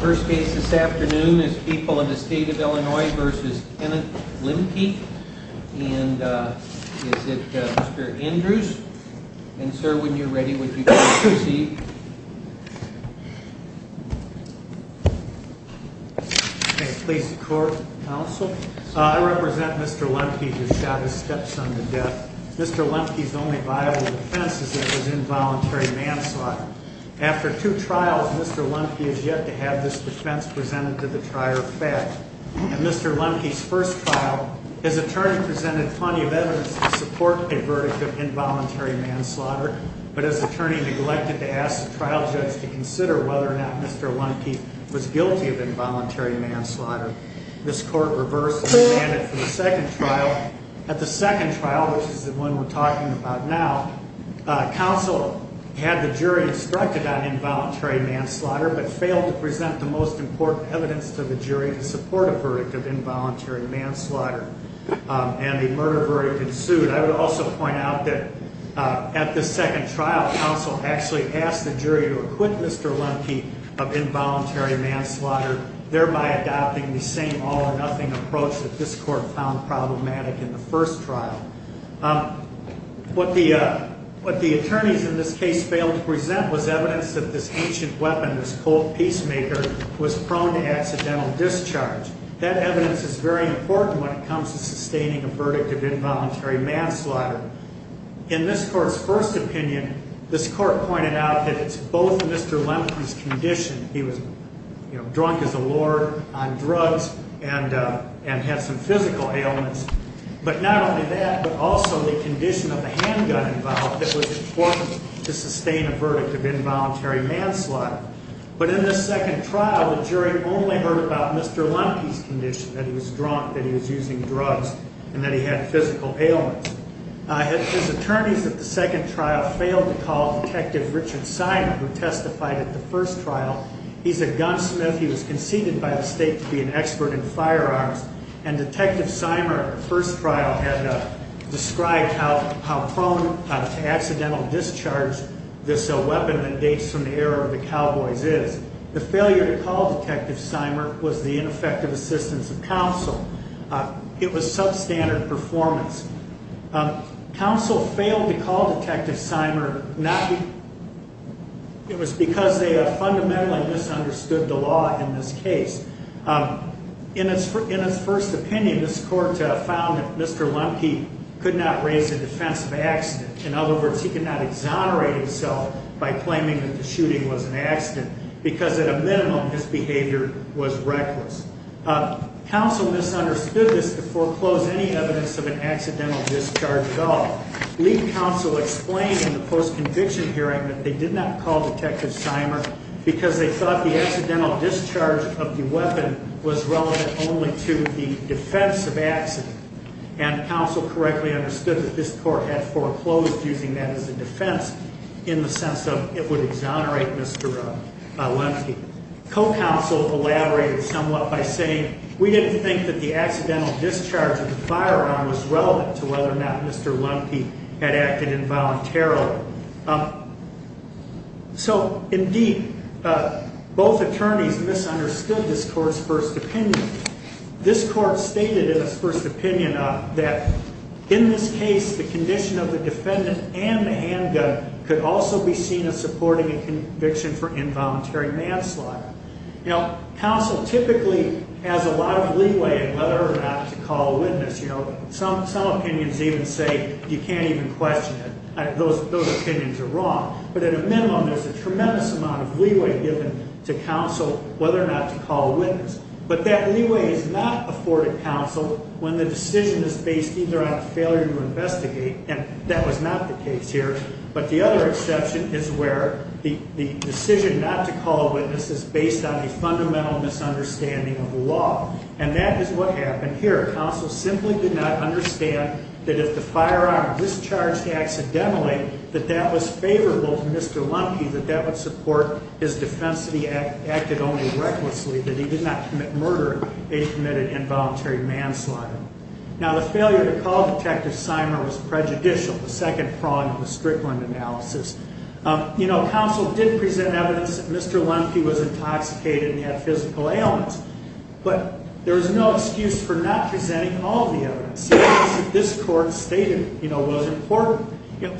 First case this afternoon is People of the State of Illinois v. Kenneth Lemke, and is it Mr. Andrews? And sir, when you're ready, would you please proceed? Okay, please record, counsel. I represent Mr. Lemke, who shot his stepson to death. Mr. Lemke's only viable defense is that it was involuntary manslaughter. After two trials, Mr. Lemke has yet to have this defense presented to the trier of fact. In Mr. Lemke's first trial, his attorney presented plenty of evidence to support a verdict of involuntary manslaughter, but his attorney neglected to ask the trial judge to consider whether or not Mr. Lemke was guilty of involuntary manslaughter. This court reversed and banned it for the second trial. At the second trial, which is the one we're talking about now, counsel had the jury instructed on involuntary manslaughter but failed to present the most important evidence to the jury to support a verdict of involuntary manslaughter, and the murder verdict ensued. I would also point out that at the second trial, counsel actually asked the jury to acquit Mr. Lemke of involuntary manslaughter, thereby adopting the same all-or-nothing approach that this court found problematic in the first trial. What the attorneys in this case failed to present was evidence that this ancient weapon, this cold peacemaker, was prone to accidental discharge. That evidence is very important when it comes to sustaining a verdict of involuntary manslaughter. In this court's first opinion, this court pointed out that it's both Mr. Lemke's condition, he was drunk as a lord on drugs and had some physical ailments, but not only that but also the condition of the handgun involved that was important to sustain a verdict of involuntary manslaughter. But in this second trial, the jury only heard about Mr. Lemke's condition, that he was drunk, that he was using drugs, and that he had physical ailments. His attorneys at the second trial failed to call Detective Richard Seimer, who testified at the first trial. He's a gunsmith, he was conceded by the state to be an expert in firearms, and Detective Seimer at the first trial had described how prone to accidental discharge this weapon that dates from the era of the cowboys is. The failure to call Detective Seimer was the ineffective assistance of counsel. It was substandard performance. Counsel failed to call Detective Seimer, it was because they fundamentally misunderstood the law in this case. In his first opinion, this court found that Mr. Lemke could not raise the defense of accident. In other words, he could not exonerate himself by claiming that the shooting was an accident, because at a minimum, his behavior was reckless. Counsel misunderstood this to foreclose any evidence of an accidental discharge at all. Lead counsel explained in the post-conviction hearing that they did not call Detective Seimer, because they thought the accidental discharge of the weapon was relevant only to the defense of accident. And counsel correctly understood that this court had foreclosed using that as a defense in the sense of it would exonerate Mr. Lemke. Co-counsel elaborated somewhat by saying, we didn't think that the accidental discharge of the firearm was relevant to whether or not Mr. Lemke had acted involuntarily. So, indeed, both attorneys misunderstood this court's first opinion. This court stated in its first opinion that in this case, the condition of the defendant and the handgun could also be seen as supporting a conviction for involuntary manslaughter. Now, counsel typically has a lot of leeway in whether or not to call a witness. Some opinions even say you can't even question it. Those opinions are wrong. But at a minimum, there's a tremendous amount of leeway given to counsel whether or not to call a witness. But that leeway is not afforded counsel when the decision is based either on a failure to investigate, and that was not the case here, but the other exception is where the decision not to call a witness is based on a fundamental misunderstanding of law. And that is what happened here. Counsel simply did not understand that if the firearm discharged accidentally, that that was favorable to Mr. Lemke, that that would support his defense that he acted only recklessly, that he did not commit murder. He committed involuntary manslaughter. Now, the failure to call Detective Seimer was prejudicial, the second prong of the Strickland analysis. You know, counsel did present evidence that Mr. Lemke was intoxicated and had physical ailments, but there is no excuse for not presenting all of the evidence. The evidence that this court stated, you know, was important.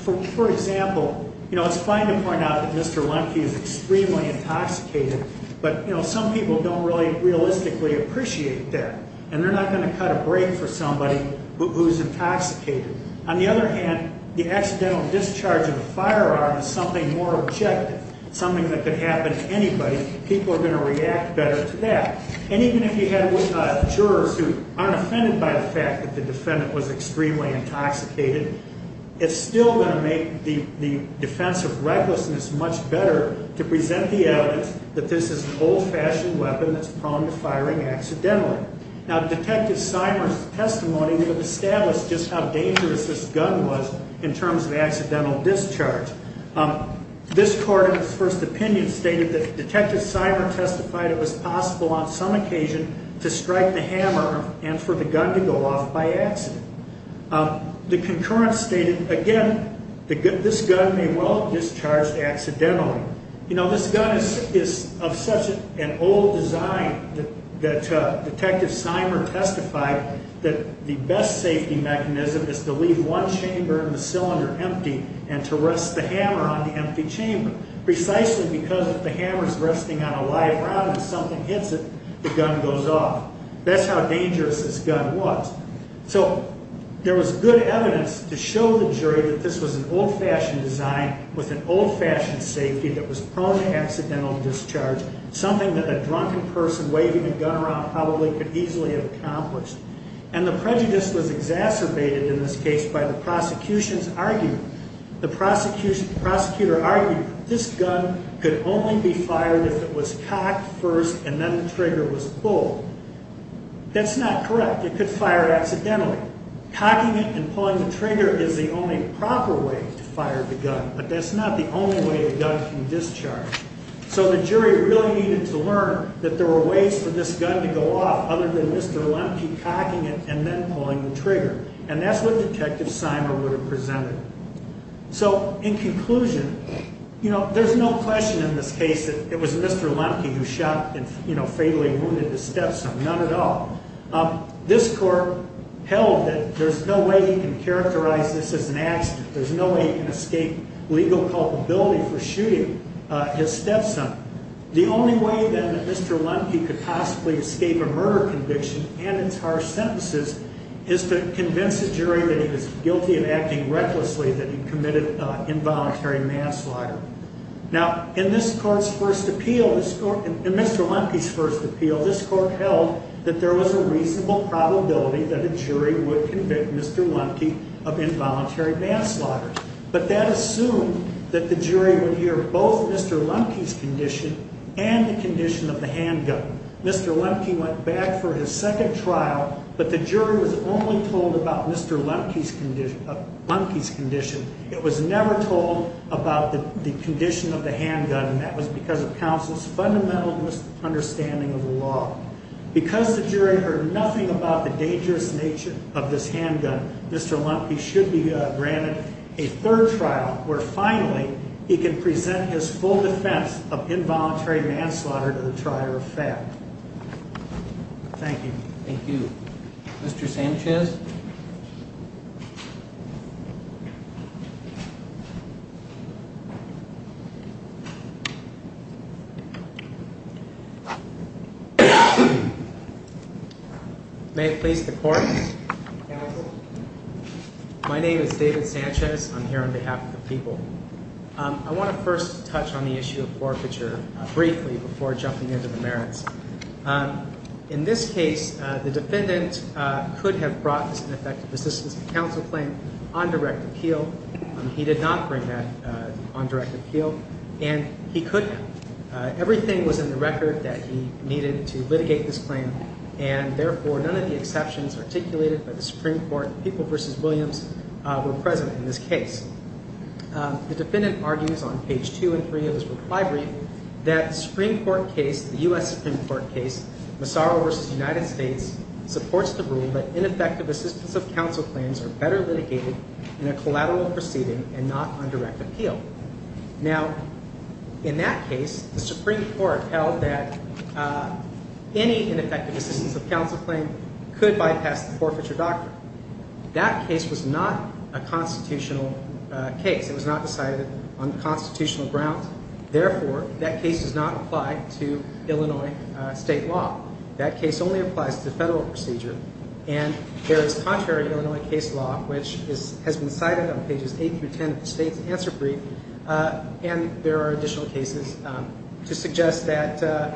For example, you know, it's fine to point out that Mr. Lemke is extremely intoxicated, but, you know, some people don't really realistically appreciate that, and they're not going to cut a break for somebody who's intoxicated. On the other hand, the accidental discharge of a firearm is something more objective, something that could happen to anybody. People are going to react better to that. And even if you had jurors who aren't offended by the fact that the defendant was extremely intoxicated, it's still going to make the defense of recklessness much better to present the evidence that this is an old-fashioned weapon that's prone to firing accidentally. Now, Detective Seimer's testimony would have established just how dangerous this gun was in terms of accidental discharge. This court, in its first opinion, stated that Detective Seimer testified it was possible on some occasion to strike the hammer and for the gun to go off by accident. The concurrence stated, again, this gun may well have discharged accidentally. You know, this gun is of such an old design that Detective Seimer testified that the best safety mechanism is to leave one chamber in the cylinder empty and to rest the hammer on the empty chamber, precisely because if the hammer's resting on a live round and something hits it, the gun goes off. That's how dangerous this gun was. So there was good evidence to show the jury that this was an old-fashioned design with an old-fashioned safety that was prone to accidental discharge, something that a drunken person waving a gun around probably could easily have accomplished. And the prejudice was exacerbated in this case by the prosecution's argument. The prosecutor argued that this gun could only be fired if it was cocked first and then the trigger was pulled. That's not correct. It could fire accidentally. Cocking it and pulling the trigger is the only proper way to fire the gun, but that's not the only way a gun can discharge. So the jury really needed to learn that there were ways for this gun to go off other than Mr. Lemke cocking it and then pulling the trigger, and that's what Detective Seimer would have presented. So in conclusion, you know, there's no question in this case that it was Mr. Lemke who shot and, you know, fatally wounded his stepson, none at all. This court held that there's no way he can characterize this as an accident. There's no way he can escape legal culpability for shooting his stepson. The only way, then, that Mr. Lemke could possibly escape a murder conviction and its harsh sentences is to convince a jury that he was guilty of acting recklessly, that he committed involuntary manslaughter. Now, in this court's first appeal, in Mr. Lemke's first appeal, this court held that there was a reasonable probability that a jury would convict Mr. Lemke of involuntary manslaughter. But that assumed that the jury would hear both Mr. Lemke's condition and the condition of the handgun. Mr. Lemke went back for his second trial, but the jury was only told about Mr. Lemke's condition. It was never told about the condition of the handgun, and that was because of counsel's fundamental misunderstanding of the law. Because the jury heard nothing about the dangerous nature of this handgun, Mr. Lemke should be granted a third trial where, finally, he can present his full defense of involuntary manslaughter to the trier of fat. Thank you. Thank you. Mr. Sanchez? May it please the Court? My name is David Sanchez. I'm here on behalf of the people. I want to first touch on the issue of forfeiture briefly before jumping into the merits. In this case, the defendant could have brought an effective assistance to counsel claim on direct appeal. He did not bring that on direct appeal, and he could not. Everything was in the record that he needed to litigate this claim, and therefore none of the exceptions articulated by the Supreme Court, People v. Williams, were present in this case. The defendant argues on page 2 and 3 of his reply brief that the Supreme Court case, the U.S. Supreme Court case, Massaro v. United States, supports the rule that ineffective assistance of counsel claims are better litigated in a collateral proceeding and not on direct appeal. Now, in that case, the Supreme Court held that any ineffective assistance of counsel claim could bypass the forfeiture doctrine. That case was not a constitutional case. It was not decided on constitutional grounds. Therefore, that case does not apply to Illinois state law. That case only applies to the federal procedure, and there is contrary Illinois case law, which has been cited on pages 8 through 10 of the state's answer brief, and there are additional cases to suggest that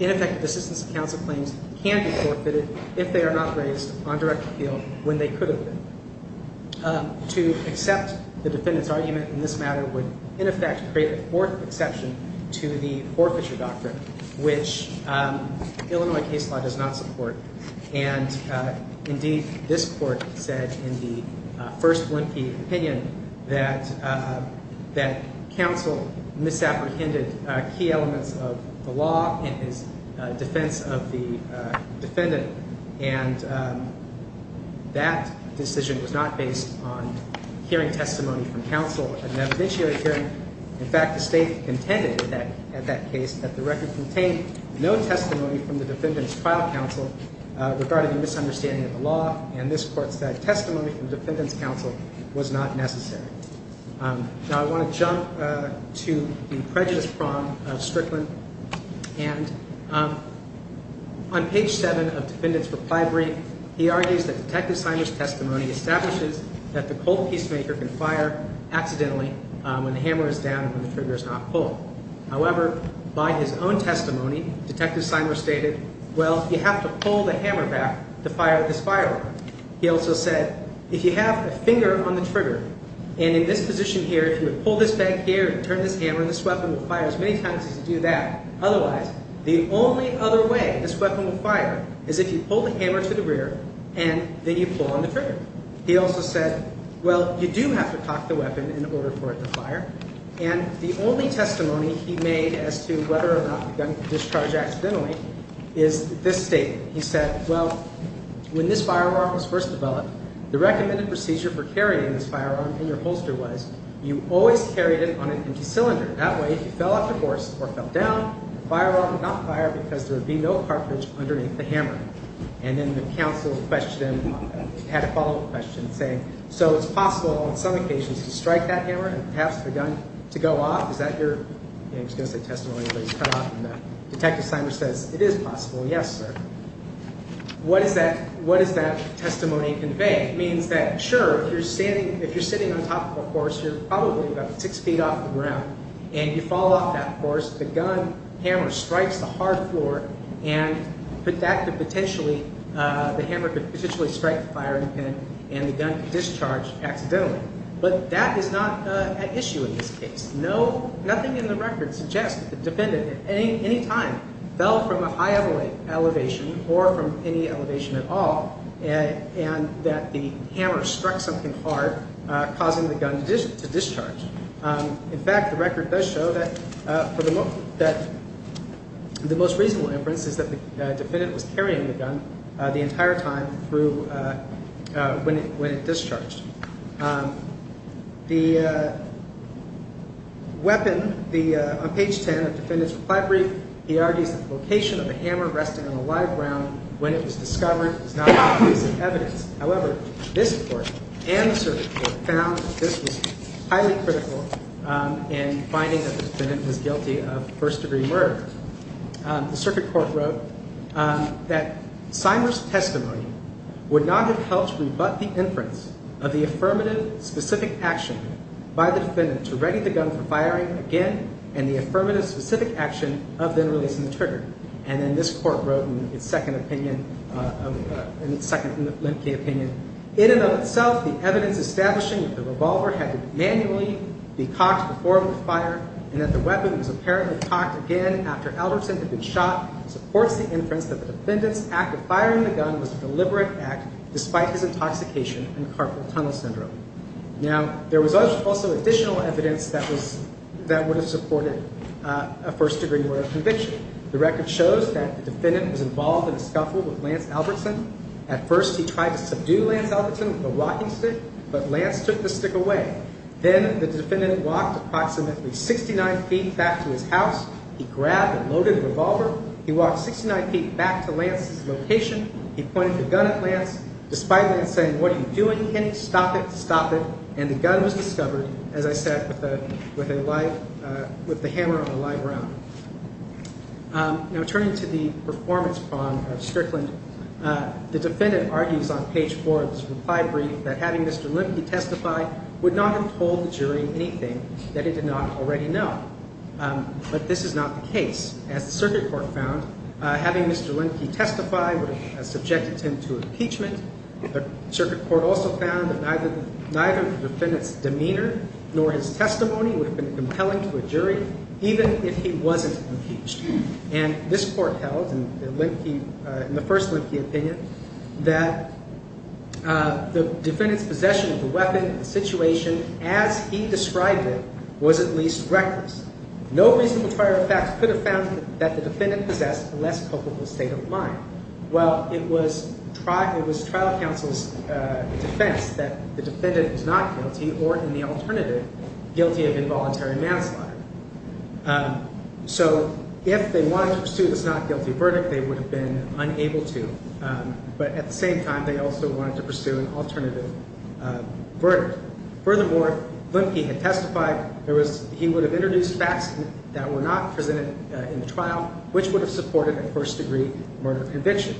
ineffective assistance of counsel claims can be forfeited if they are not raised on direct appeal when they could have been. To accept the defendant's argument in this matter would, in effect, create a fourth exception to the forfeiture doctrine, which Illinois case law does not support. And, indeed, this Court said in the first Blinke opinion that counsel misapprehended key elements of the law in his defense of the defendant, and that decision was not based on hearing testimony from counsel at an evidentiary hearing. In fact, the state contended at that case that the record contained no testimony from the defendant's trial counsel regarding the misunderstanding of the law, and this Court said testimony from defendant's counsel was not necessary. Now, I want to jump to the prejudice prong of Strickland, and on page 7 of the defendant's reply brief, he argues that Detective Seimer's testimony establishes that the cold peacemaker can fire accidentally when the hammer is down and when the trigger is not pulled. However, by his own testimony, Detective Seimer stated, well, you have to pull the hammer back to fire this firearm. He also said, if you have a finger on the trigger, and in this position here, if you would pull this back here and turn this hammer, this weapon would fire as many times as you do that. Otherwise, the only other way this weapon would fire is if you pull the hammer to the rear and then you pull on the trigger. He also said, well, you do have to cock the weapon in order for it to fire, and the only testimony he made as to whether or not the gun could discharge accidentally is this statement. He said, well, when this firearm was first developed, the recommended procedure for carrying this firearm in your holster was you always carried it on an empty cylinder. That way, if it fell off the horse or fell down, the firearm would not fire because there would be no cartridge underneath the hammer. And then the counsel had a follow-up question saying, so it's possible on some occasions to strike that hammer and pass the gun to go off? Is that your – I was going to say testimony, but it's cut off. And Detective Seimer says, it is possible, yes, sir. What does that testimony convey? It means that, sure, if you're sitting on top of a horse, you're probably about six feet off the ground, and you fall off that horse. The gun hammer strikes the hard floor, and that could potentially – the hammer could potentially strike the firing pin, and the gun could discharge accidentally. But that is not at issue in this case. Nothing in the record suggests that the defendant at any time fell from a high elevation or from any elevation at all, and that the hammer struck something hard, causing the gun to discharge. In fact, the record does show that the most reasonable inference is that the defendant was carrying the gun the entire time when it discharged. The weapon, on page 10 of the defendant's reply brief, he argues that the location of the hammer resting on a live ground when it was discovered is not an obvious evidence. However, this court and the circuit court found that this was highly critical in finding that the defendant was guilty of first-degree murder. The circuit court wrote that Seimer's testimony would not have helped rebut the inference of the affirmative specific action by the defendant to ready the gun for firing again and the affirmative specific action of then releasing the trigger. And then this court wrote in its second opinion, in its second Lemke opinion, in and of itself the evidence establishing that the revolver had to manually be cocked before it would fire and that the weapon was apparently cocked again after Albertson had been shot supports the inference that the defendant's act of firing the gun was a deliberate act despite his intoxication and carpal tunnel syndrome. Now, there was also additional evidence that would have supported a first-degree murder conviction. The record shows that the defendant was involved in a scuffle with Lance Albertson. At first, he tried to subdue Lance Albertson with a walking stick, but Lance took the stick away. Then the defendant walked approximately 69 feet back to his house. He grabbed and loaded the revolver. He walked 69 feet back to Lance's location. He pointed the gun at Lance. Despite Lance saying, what are you doing, Kenny? Stop it. Stop it. And the gun was discovered, as I said, with the hammer on a live round. Now, turning to the performance prong of Strickland, the defendant argues on page 4 of his reply brief that having Mr. Lemke testify would not have told the jury anything that he did not already know. But this is not the case. As the circuit court found, having Mr. Lemke testify would have subjected him to impeachment. The circuit court also found that neither the defendant's demeanor nor his testimony would have been compelling to a jury, even if he wasn't impeached. And this court held, in the first Lemke opinion, that the defendant's possession of the weapon and the situation as he described it was at least reckless. No reasonable trier of facts could have found that the defendant possessed a less culpable state of mind. Well, it was trial counsel's defense that the defendant was not guilty or, in the alternative, guilty of involuntary manslaughter. So if they wanted to pursue this not guilty verdict, they would have been unable to. But at the same time, they also wanted to pursue an alternative verdict. Furthermore, Lemke had testified, he would have introduced facts that were not presented in the trial, which would have supported a first-degree murder conviction.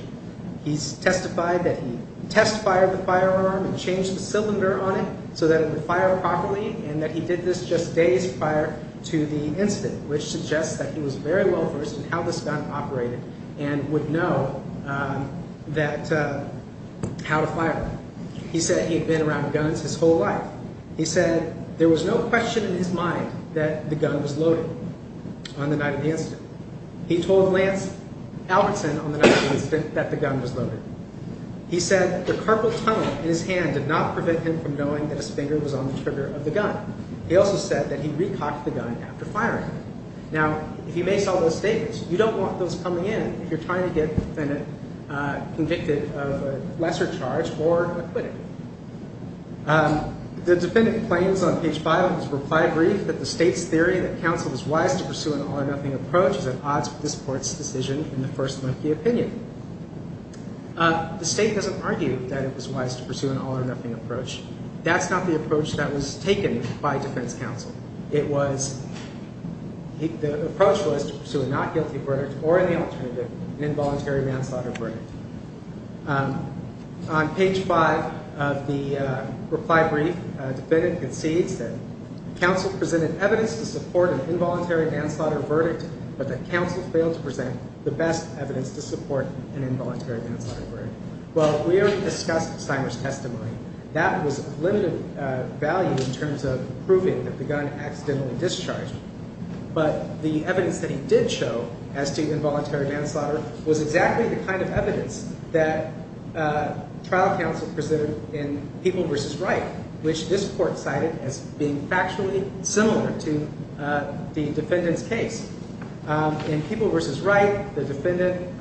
He testified that he test-fired the firearm and changed the cylinder on it so that it would fire properly, and that he did this just days prior to the incident, which suggests that he was very well-versed in how this gun operated and would know how to fire it. He said he had been around guns his whole life. He said there was no question in his mind that the gun was loaded on the night of the incident. He told Lance Albertson on the night of the incident that the gun was loaded. He said the carpal tunnel in his hand did not prevent him from knowing that a spinger was on the trigger of the gun. He also said that he re-cocked the gun after firing it. Now, if you make all those statements, you don't want those coming in if you're trying to get the defendant convicted of a lesser charge or acquitted. The defendant claims on page 5 of his reply brief that the State's theory that counsel was wise to pursue an all-or-nothing approach is at odds with this Court's decision in the first-monkey opinion. The State doesn't argue that it was wise to pursue an all-or-nothing approach. That's not the approach that was taken by defense counsel. The approach was to pursue a not-guilty verdict or, in the alternative, an involuntary manslaughter verdict. On page 5 of the reply brief, the defendant concedes that counsel presented evidence to support an involuntary manslaughter verdict, but that counsel failed to present the best evidence to support an involuntary manslaughter verdict. Well, we already discussed Steiner's testimony. That was of limited value in terms of proving that the gun accidentally discharged, but the evidence that he did show as to involuntary manslaughter was exactly the kind of evidence that trial counsel presented in People v. Wright, which this Court cited as being factually similar to the defendant's case. In People v. Wright, the defendant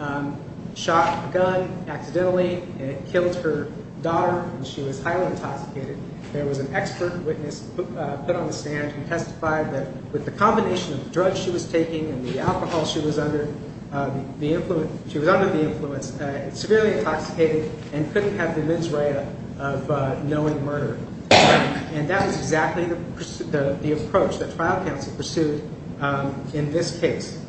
shot a gun accidentally, and it killed her daughter, and she was highly intoxicated. There was an expert witness put on the stand who testified that with the combination of the drugs she was taking and the alcohol she was under, she was under the influence, severely intoxicated, and couldn't have the mens rea of knowing murder. And that was exactly the approach that trial counsel pursued in this case.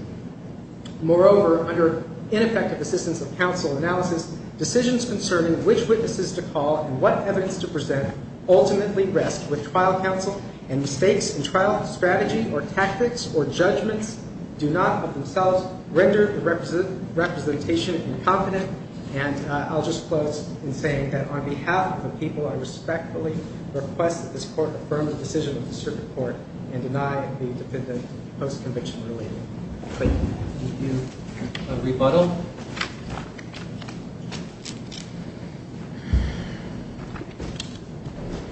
Moreover, under ineffective assistance of counsel analysis, decisions concerning which witnesses to call and what evidence to present ultimately rest with trial counsel, and mistakes in trial strategy or tactics or judgments do not of themselves render the representation incompetent. And I'll just close in saying that on behalf of the people, I respectfully request that this Court affirm the decision of the Circuit Court and deny the defendant post-conviction related claim. Thank you. A rebuttal?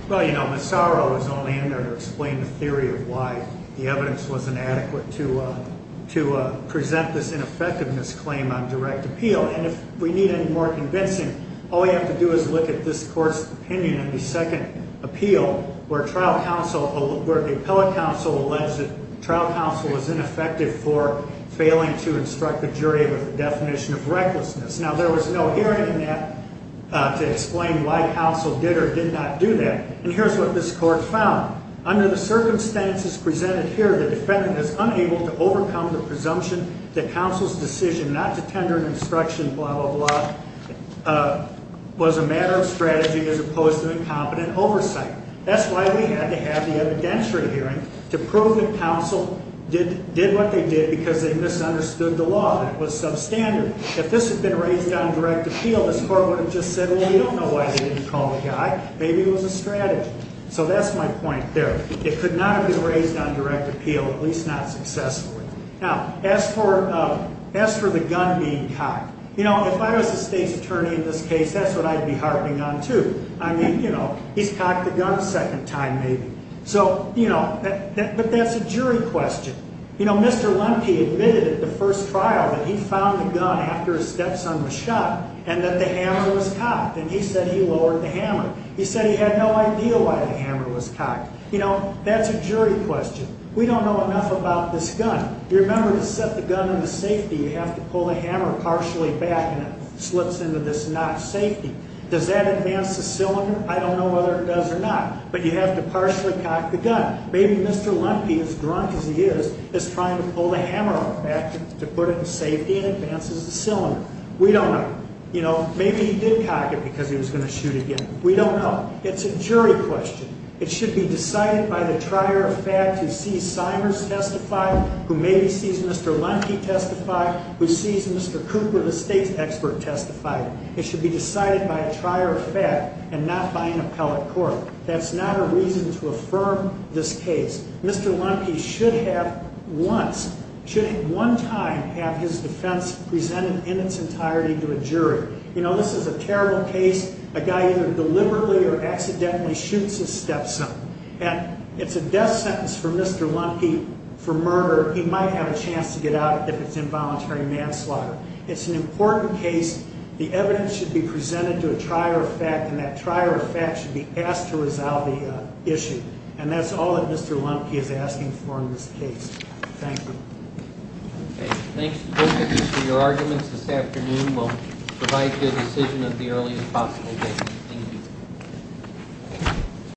Well, you know, Massaro is only in there to explain the theory of why the evidence was inadequate to present this ineffectiveness claim on direct appeal. And if we need any more convincing, all we have to do is look at this Court's opinion in the second appeal, where the appellate counsel alleged that trial counsel was ineffective for failing to instruct the jury with a definition of recklessness. Now, there was no hearing in that to explain why counsel did or did not do that. And here's what this Court found. Under the circumstances presented here, the defendant is unable to overcome the presumption that counsel's decision not to tender an instruction, blah, blah, blah, was a matter of strategy as opposed to incompetent oversight. That's why we had to have the evidentiary hearing to prove that counsel did what they did because they misunderstood the law, that it was substandard. If this had been raised on direct appeal, this Court would have just said, well, we don't know why they didn't call the guy. Maybe it was a strategy. So that's my point there. It could not have been raised on direct appeal, at least not successfully. Now, as for the gun being cocked, you know, if I was a state's attorney in this case, that's what I'd be harping on, too. I mean, you know, he's cocked the gun a second time, maybe. So, you know, but that's a jury question. You know, Mr. Lemke admitted at the first trial that he found the gun after his stepson was shot and that the hammer was cocked, and he said he lowered the hammer. He said he had no idea why the hammer was cocked. You know, that's a jury question. We don't know enough about this gun. You remember to set the gun in the safety, you have to pull the hammer partially back and it slips into this notch safety. Does that advance the cylinder? I don't know whether it does or not, but you have to partially cock the gun. Maybe Mr. Lemke, as drunk as he is, is trying to pull the hammer back to put it in safety and it advances the cylinder. We don't know. You know, maybe he did cock it because he was going to shoot again. We don't know. It's a jury question. It should be decided by the trier of fact who sees Simers testify, who maybe sees Mr. Lemke testify, who sees Mr. Cooper, the state's expert, testify. It should be decided by a trier of fact and not by an appellate court. That's not a reason to affirm this case. Mr. Lemke should have once, should at one time have his defense presented in its entirety to a jury. You know, this is a terrible case. A guy either deliberately or accidentally shoots his stepson. And it's a death sentence for Mr. Lemke for murder. He might have a chance to get out if it's involuntary manslaughter. It's an important case. The evidence should be presented to a trier of fact, and that trier of fact should be asked to resolve the issue. And that's all that Mr. Lemke is asking for in this case. Thank you. Okay. Thanks to both of you for your arguments this afternoon. We'll provide you a decision at the earliest possible date. Thank you.